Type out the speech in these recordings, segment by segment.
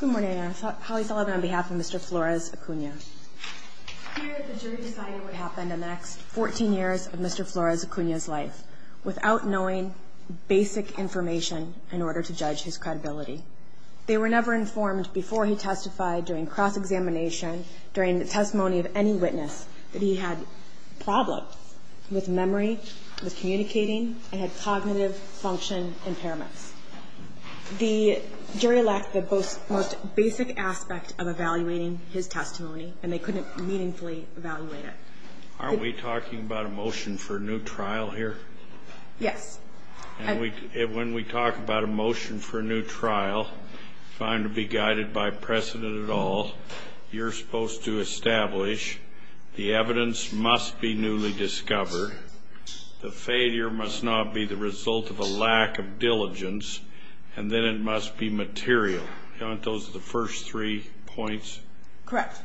Good morning. Holly Sullivan on behalf of Mr. Flores-Acuna. Here the jury decided what happened in the next 14 years of Mr. Flores-Acuna's life without knowing basic information in order to judge his credibility. They were never informed before he testified during cross-examination, during the testimony of any witness that he had problems with memory, with communicating, and had cognitive function impairments. The jury lacked the most basic aspect of evaluating his testimony and they couldn't meaningfully evaluate it. Aren't we talking about a motion for a new trial here? Yes. And when we talk about a motion for a new trial, if I'm to be guided by precedent at all, you're supposed to establish the evidence must be newly discovered, the failure must not be the result of a lack of diligence, and then it must be material. Aren't those the first three points? Correct.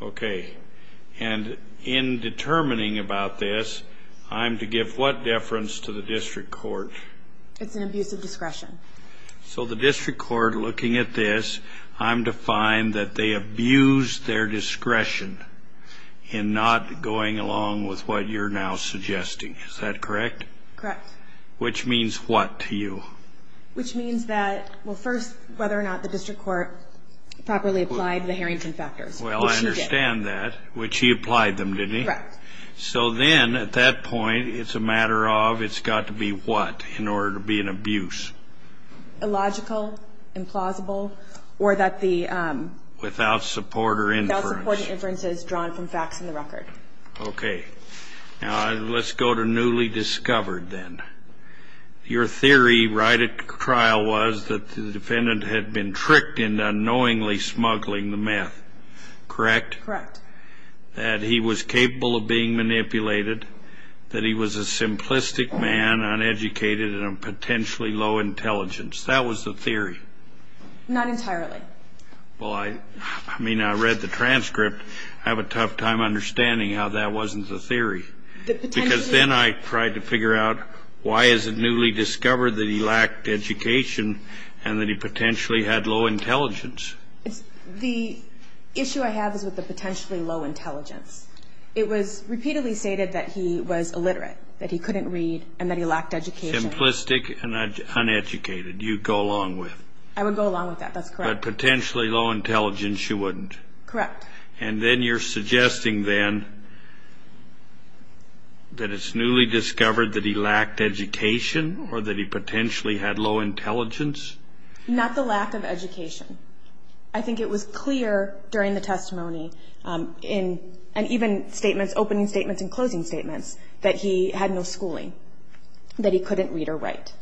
Okay. And in determining about this, I'm to give what deference to the district court? It's an abuse of discretion. So the district court, looking at this, I'm to find that they abused their discretion in not going along with what you're now suggesting. Is that correct? Correct. Which means what to you? Which means that, well, first, whether or not the district court properly applied the Harrington factors, which he did. Well, I understand that, which he applied them, didn't he? Correct. So then, at that point, it's a matter of it's got to be what in order to be an abuse? Illogical, implausible, or that the... Without support or inference. Without support or inference is drawn from facts in the record. Okay. Now, let's go to newly discovered, then. Your theory right at trial was that the defendant had been tricked into unknowingly smuggling the meth. Correct? Correct. That he was capable of being manipulated, that he was a simplistic man, uneducated, and potentially low intelligence. That was the theory? Not entirely. Well, I mean, I read the transcript. I have a tough time understanding how that wasn't the theory. Because then I tried to figure out why is it newly discovered that he lacked education and that he potentially had low intelligence? The issue I have is with the potentially low intelligence. It was repeatedly stated that he was illiterate, that he couldn't read, and that he lacked education. Simplistic and uneducated, you'd go along with. I would go along with that. That's correct. But potentially low intelligence, you wouldn't. Correct. And then you're suggesting, then, that it's newly discovered that he lacked education or that he potentially had low intelligence? Not the lack of education. I think it was clear during the testimony and even statements, opening statements and closing statements, that he had no schooling, that he couldn't read or write.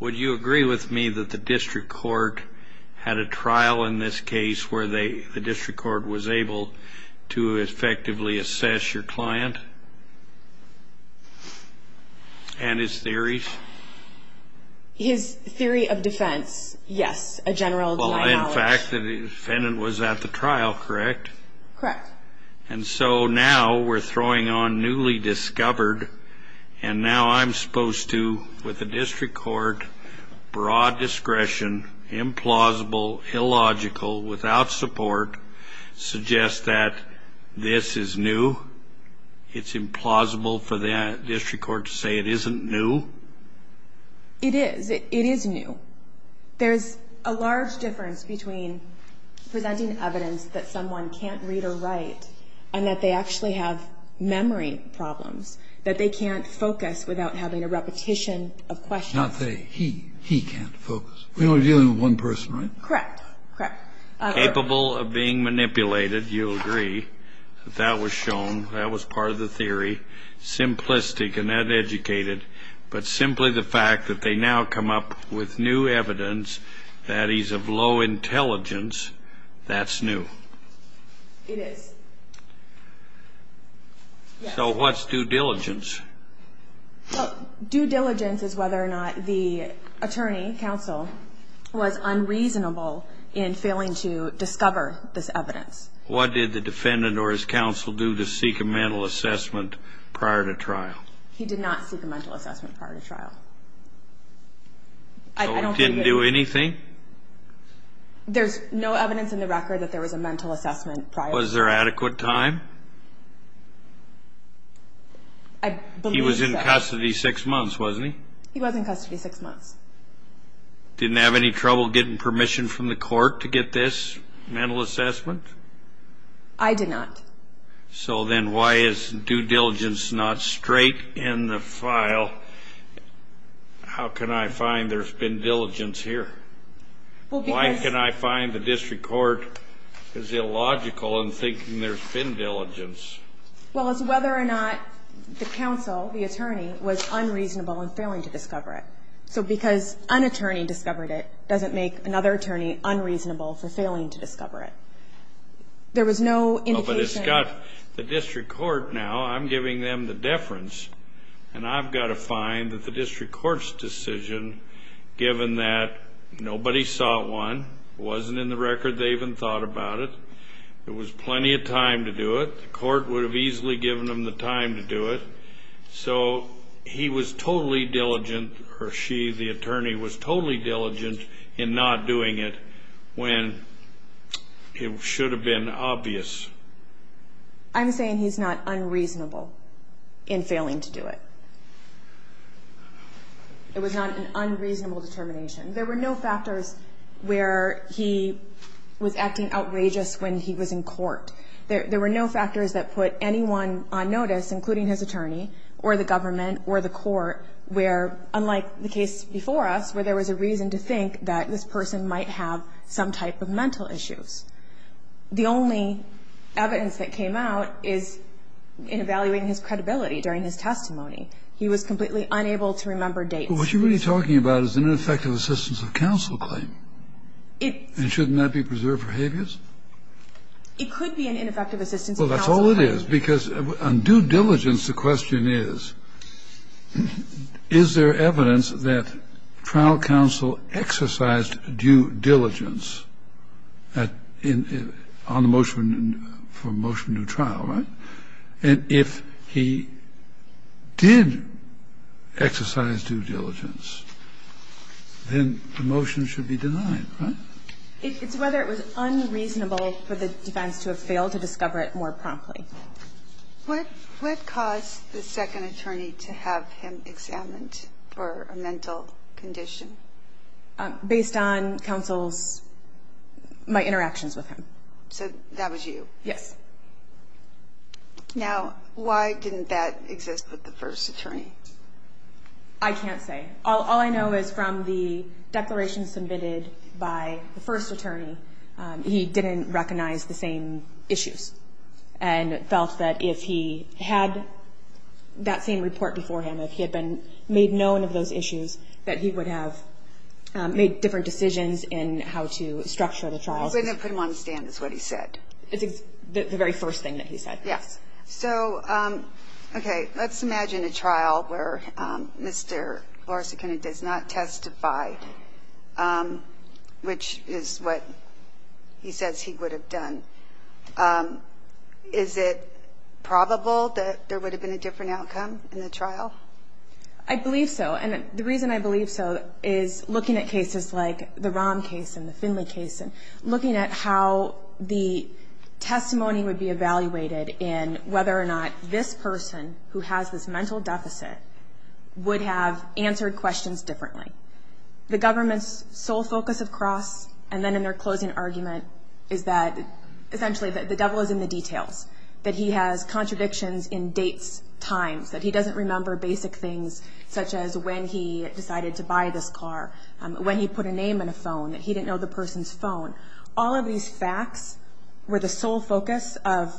Would you agree with me that the district court had a trial in this case where the district court was able to effectively assess your client and his theories? His theory of defense, yes, a general denial of knowledge. Well, in fact, the defendant was at the trial, correct? Correct. And so now we're throwing on newly discovered, and now I'm supposed to, with the district court, broad discretion, implausible, illogical, without support, suggest that this is new? It's implausible for the district court to say it isn't new? It is. It is new. There's a large difference between presenting evidence that someone can't read or write and that they actually have memory problems, that they can't focus without having a repetition of questions. Not they. He. He can't focus. We're only dealing with one person, right? Correct. Correct. Capable of being manipulated, you'll agree that that was shown, that was part of the theory, simplistic and uneducated, but simply the fact that they now come up with new evidence, that is, of low intelligence, that's new? It is. So what's due diligence? Well, due diligence is whether or not the attorney, counsel, was unreasonable in failing to discover this evidence. What did the defendant or his counsel do to seek a mental assessment prior to trial? He did not seek a mental assessment prior to trial. So he didn't do anything? There's no evidence in the record that there was a mental assessment prior to trial. Was there adequate time? I believe so. He was in custody six months, wasn't he? He was in custody six months. Didn't have any trouble getting permission from the court to get this mental assessment? I did not. So then why is due diligence not straight in the file? How can I find there's been diligence here? Why can I find the district court is illogical in thinking there's been diligence? Well, it's whether or not the counsel, the attorney, was unreasonable in failing to discover it. So because an attorney discovered it doesn't make another attorney unreasonable for failing to discover it. There was no indication? Well, but it's got the district court now. I'm giving them the deference. And I've got to find that the district court's decision, given that nobody saw it one, wasn't in the record they even thought about it, there was plenty of time to do it. The court would have easily given them the time to do it. So he was totally diligent, or she, the attorney, was totally diligent in not doing it when it should have been obvious. I'm saying he's not unreasonable in failing to do it. It was not an unreasonable determination. There were no factors where he was acting outrageous when he was in court. There were no factors that put anyone on notice, including his attorney or the government or the court, where, unlike the case before us, where there was a reason to think that this person might have some type of mental issues. The only evidence that came out is in evaluating his credibility during his testimony. He was completely unable to remember dates. But what you're really talking about is an ineffective assistance of counsel claim. And shouldn't that be preserved for habeas? It could be an ineffective assistance of counsel claim. So that's all it is. Because on due diligence, the question is, is there evidence that trial counsel exercised due diligence on the motion for motion to trial, right? And if he did exercise due diligence, then the motion should be denied, right? It's whether it was unreasonable for the defense to have failed to discover it more promptly. What caused the second attorney to have him examined for a mental condition? Based on counsel's my interactions with him. So that was you? Yes. Now, why didn't that exist with the first attorney? I can't say. All I know is from the declaration submitted by the first attorney, he didn't recognize the same issues and felt that if he had that same report before him, if he had been made known of those issues, that he would have made different decisions in how to structure the trial. Wouldn't have put him on the stand is what he said. The very first thing that he said. Yes. So, okay. Let's imagine a trial where Mr. Larson does not testify, which is what he says he would have done. Is it probable that there would have been a different outcome in the trial? I believe so. And the reason I believe so is looking at cases like the Rom case and the Finley case and looking at how the testimony would be evaluated in whether or not this person who has this mental deficit would have answered questions differently. The government's sole focus of cross, and then in their closing argument, is that essentially the devil is in the details, that he has contradictions in dates, times, that he doesn't remember basic things such as when he decided to buy this car, when he put a name on a phone, that he didn't know the person's phone. All of these facts were the sole focus of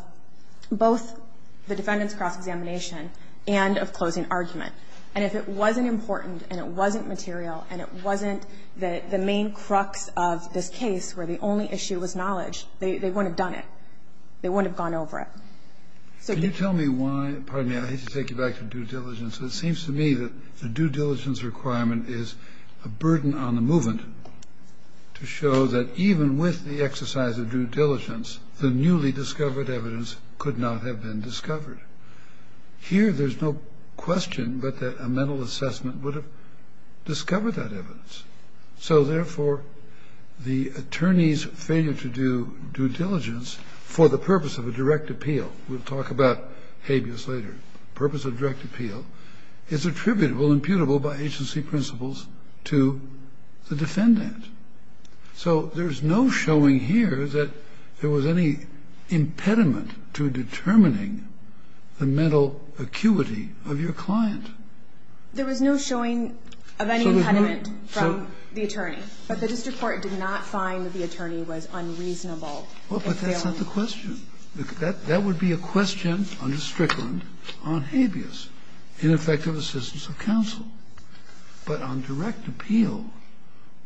both the defendant's cross-examination and of closing argument. And if it wasn't important and it wasn't material and it wasn't the main crux of this case where the only issue was knowledge, they wouldn't have done it. They wouldn't have gone over it. So the ---- Can you tell me why? Pardon me. I hate to take you back to due diligence. It seems to me that the due diligence requirement is a burden on the movement to show that even with the exercise of due diligence, the newly discovered evidence could not have been discovered. Here there's no question but that a mental assessment would have discovered that evidence. So therefore, the attorney's failure to do due diligence for the purpose of a direct appeal We'll talk about habeas later. The purpose of a direct appeal is attributable, imputable by agency principles to the defendant. So there's no showing here that there was any impediment to determining the mental acuity of your client. There was no showing of any impediment from the attorney. But the district court did not find that the attorney was unreasonable in failing. Well, but that's not the question. That would be a question under Strickland on habeas, ineffective assistance of counsel. But on direct appeal,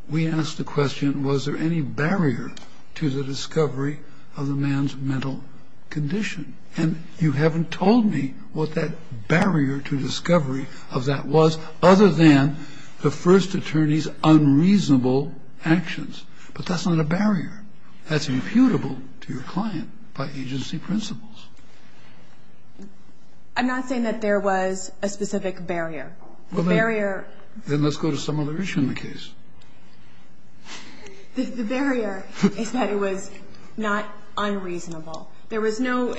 we asked the question, was there any barrier to the discovery of the man's mental condition? And you haven't told me what that barrier to discovery of that was, other than the first attorney's unreasonable actions. But that's not a barrier. That's imputable to your client by agency principles. I'm not saying that there was a specific barrier. The barrier. Then let's go to some other issue in the case. The barrier is that it was not unreasonable. There was no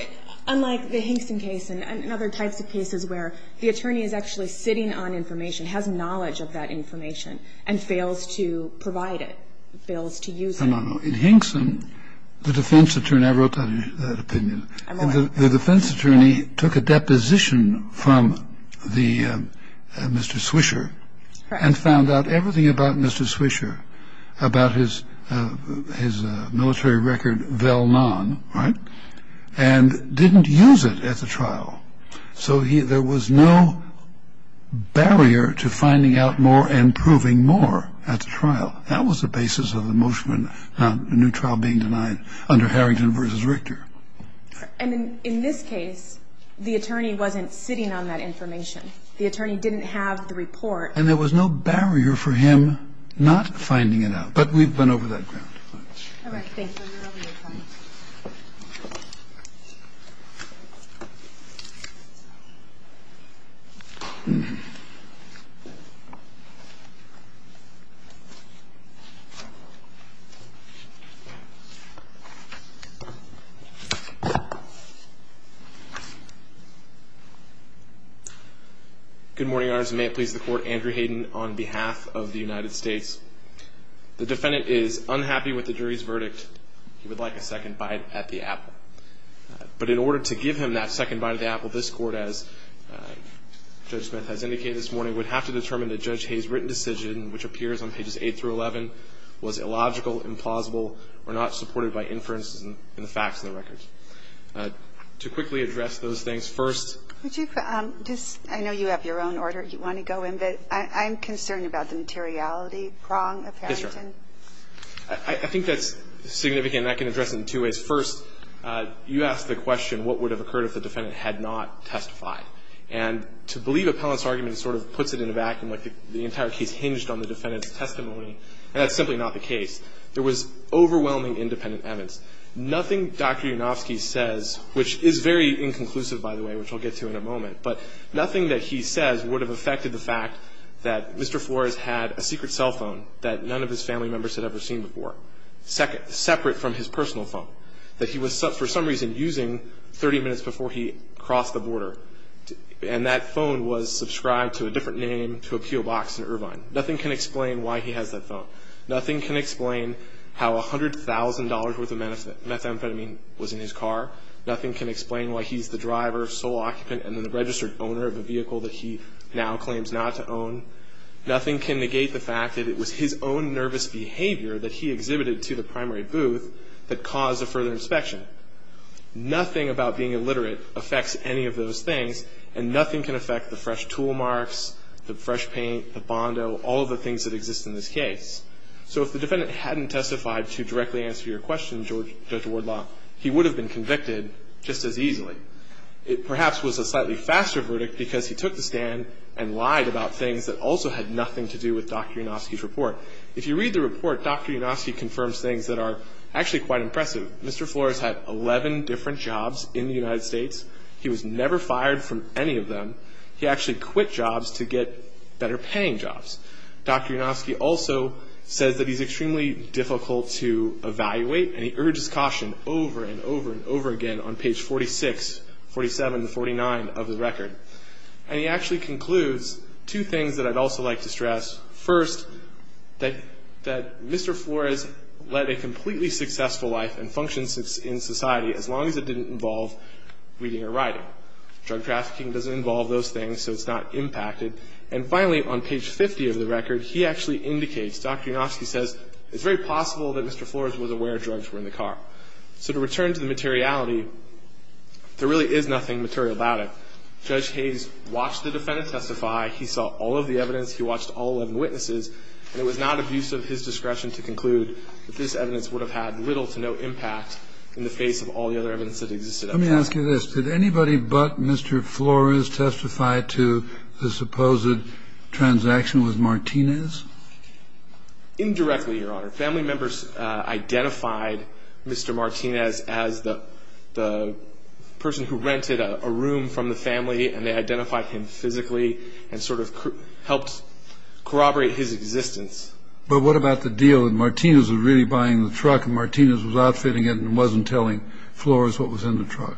unlike the Hinkson case and other types of cases where the attorney is actually sitting on information, has knowledge of that information, and fails to provide it, fails to use it. Now, in Hinkson, the defense attorney, I wrote that opinion. The defense attorney took a deposition from Mr. Swisher and found out everything about Mr. Swisher, about his military record, Vell Nahn, right? And didn't use it at the trial. So there was no barrier to finding out more and proving more at the trial. That was the basis of the motion on a new trial being denied under Harrington v. Richter. And in this case, the attorney wasn't sitting on that information. The attorney didn't have the report. And there was no barrier for him not finding it out. But we've gone over that ground. All right. Thank you. Good morning, Your Honor. May it please the Court. Andrew Hayden on behalf of the United States. The defendant is unhappy with the jury's verdict. He would like a second bite at the apple. But in order to give him that second bite at the apple, this Court, as Judge Smith has indicated this morning, would have to determine that Judge Hayden's written decision, which appears on pages 8 through 11, was illogical, implausible, or not supported by inferences in the facts of the record. To quickly address those things, first ---- Would you just ---- I know you have your own order you want to go in. But I'm concerned about the materiality prong of Harrington. Yes, Your Honor. I think that's significant. And I can address it in two ways. First, you asked the question, what would have occurred if the defendant had not testified? And to believe appellant's argument sort of puts it in a vacuum, like the entire case hinged on the defendant's testimony. And that's simply not the case. There was overwhelming independent evidence. Nothing Dr. Yunofsky says, which is very inconclusive, by the way, which we'll get to in a moment. But nothing that he says would have affected the fact that Mr. Flores had a secret cell phone that none of his family members had ever seen before, separate from his personal phone, that he was for some reason using 30 minutes before he crossed the border. And that phone was subscribed to a different name, to a P.O. box in Irvine. Nothing can explain why he has that phone. Nothing can explain how $100,000 worth of methamphetamine was in his car. Nothing can explain why he's the driver, sole occupant, and then the registered owner of a vehicle that he now claims not to own. Nothing can negate the fact that it was his own nervous behavior that he exhibited to the primary booth that caused a further inspection. Nothing about being illiterate affects any of those things, and nothing can affect the fresh tool marks, the fresh paint, the Bondo, all of the things that exist in this case. So if the defendant hadn't testified to directly answer your question, Judge Wardlaw, he would have been convicted just as easily. It perhaps was a slightly faster verdict because he took the stand and lied about things that also had nothing to do with Dr. Unofsky's report. If you read the report, Dr. Unofsky confirms things that are actually quite impressive. Mr. Flores had 11 different jobs in the United States. He was never fired from any of them. He actually quit jobs to get better-paying jobs. Dr. Unofsky also says that he's extremely difficult to evaluate, and he urges caution over and over and over again on page 46, 47 to 49 of the record. And he actually concludes two things that I'd also like to stress. First, that Mr. Flores led a completely successful life and functions in society as long as it didn't involve reading or writing. Drug trafficking doesn't involve those things, so it's not impacted. And finally, on page 50 of the record, he actually indicates, Dr. Unofsky says, it's very possible that Mr. Flores was aware drugs were in the car. So to return to the materiality, there really is nothing material about it. Judge Hayes watched the defendant testify. He saw all of the evidence. He watched all 11 witnesses, and it was not of use of his discretion to conclude that this evidence would have had little to no impact in the face of all the other evidence that existed. Kennedy. Let me ask you this. Did anybody but Mr. Flores testify to the supposed transaction with Martinez? Indirectly. Indirectly, Your Honor. Family members identified Mr. Martinez as the person who rented a room from the family, and they identified him physically and sort of helped corroborate his existence. But what about the deal that Martinez was really buying the truck, and Martinez was outfitting it and wasn't telling Flores what was in the truck?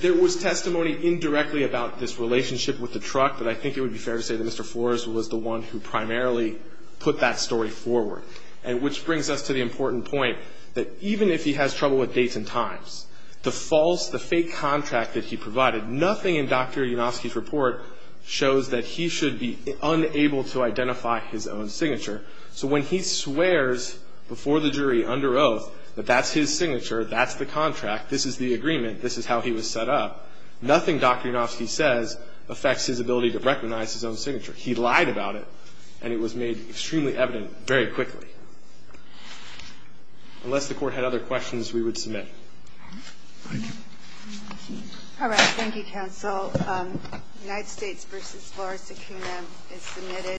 There was testimony indirectly about this relationship with the truck, but I think it would be fair to say that Mr. Flores was the one who primarily put that story forward. And which brings us to the important point that even if he has trouble with dates and times, the false, the fake contract that he provided, nothing in Dr. Yanofsky's report shows that he should be unable to identify his own signature. So when he swears before the jury under oath that that's his signature, that's the contract, this is the agreement, this is how he was set up, he lied about it, and it was made extremely evident very quickly. Unless the Court had other questions, we would submit. Thank you. All right. Thank you, counsel. United States v. Flores-Sakuna is submitted.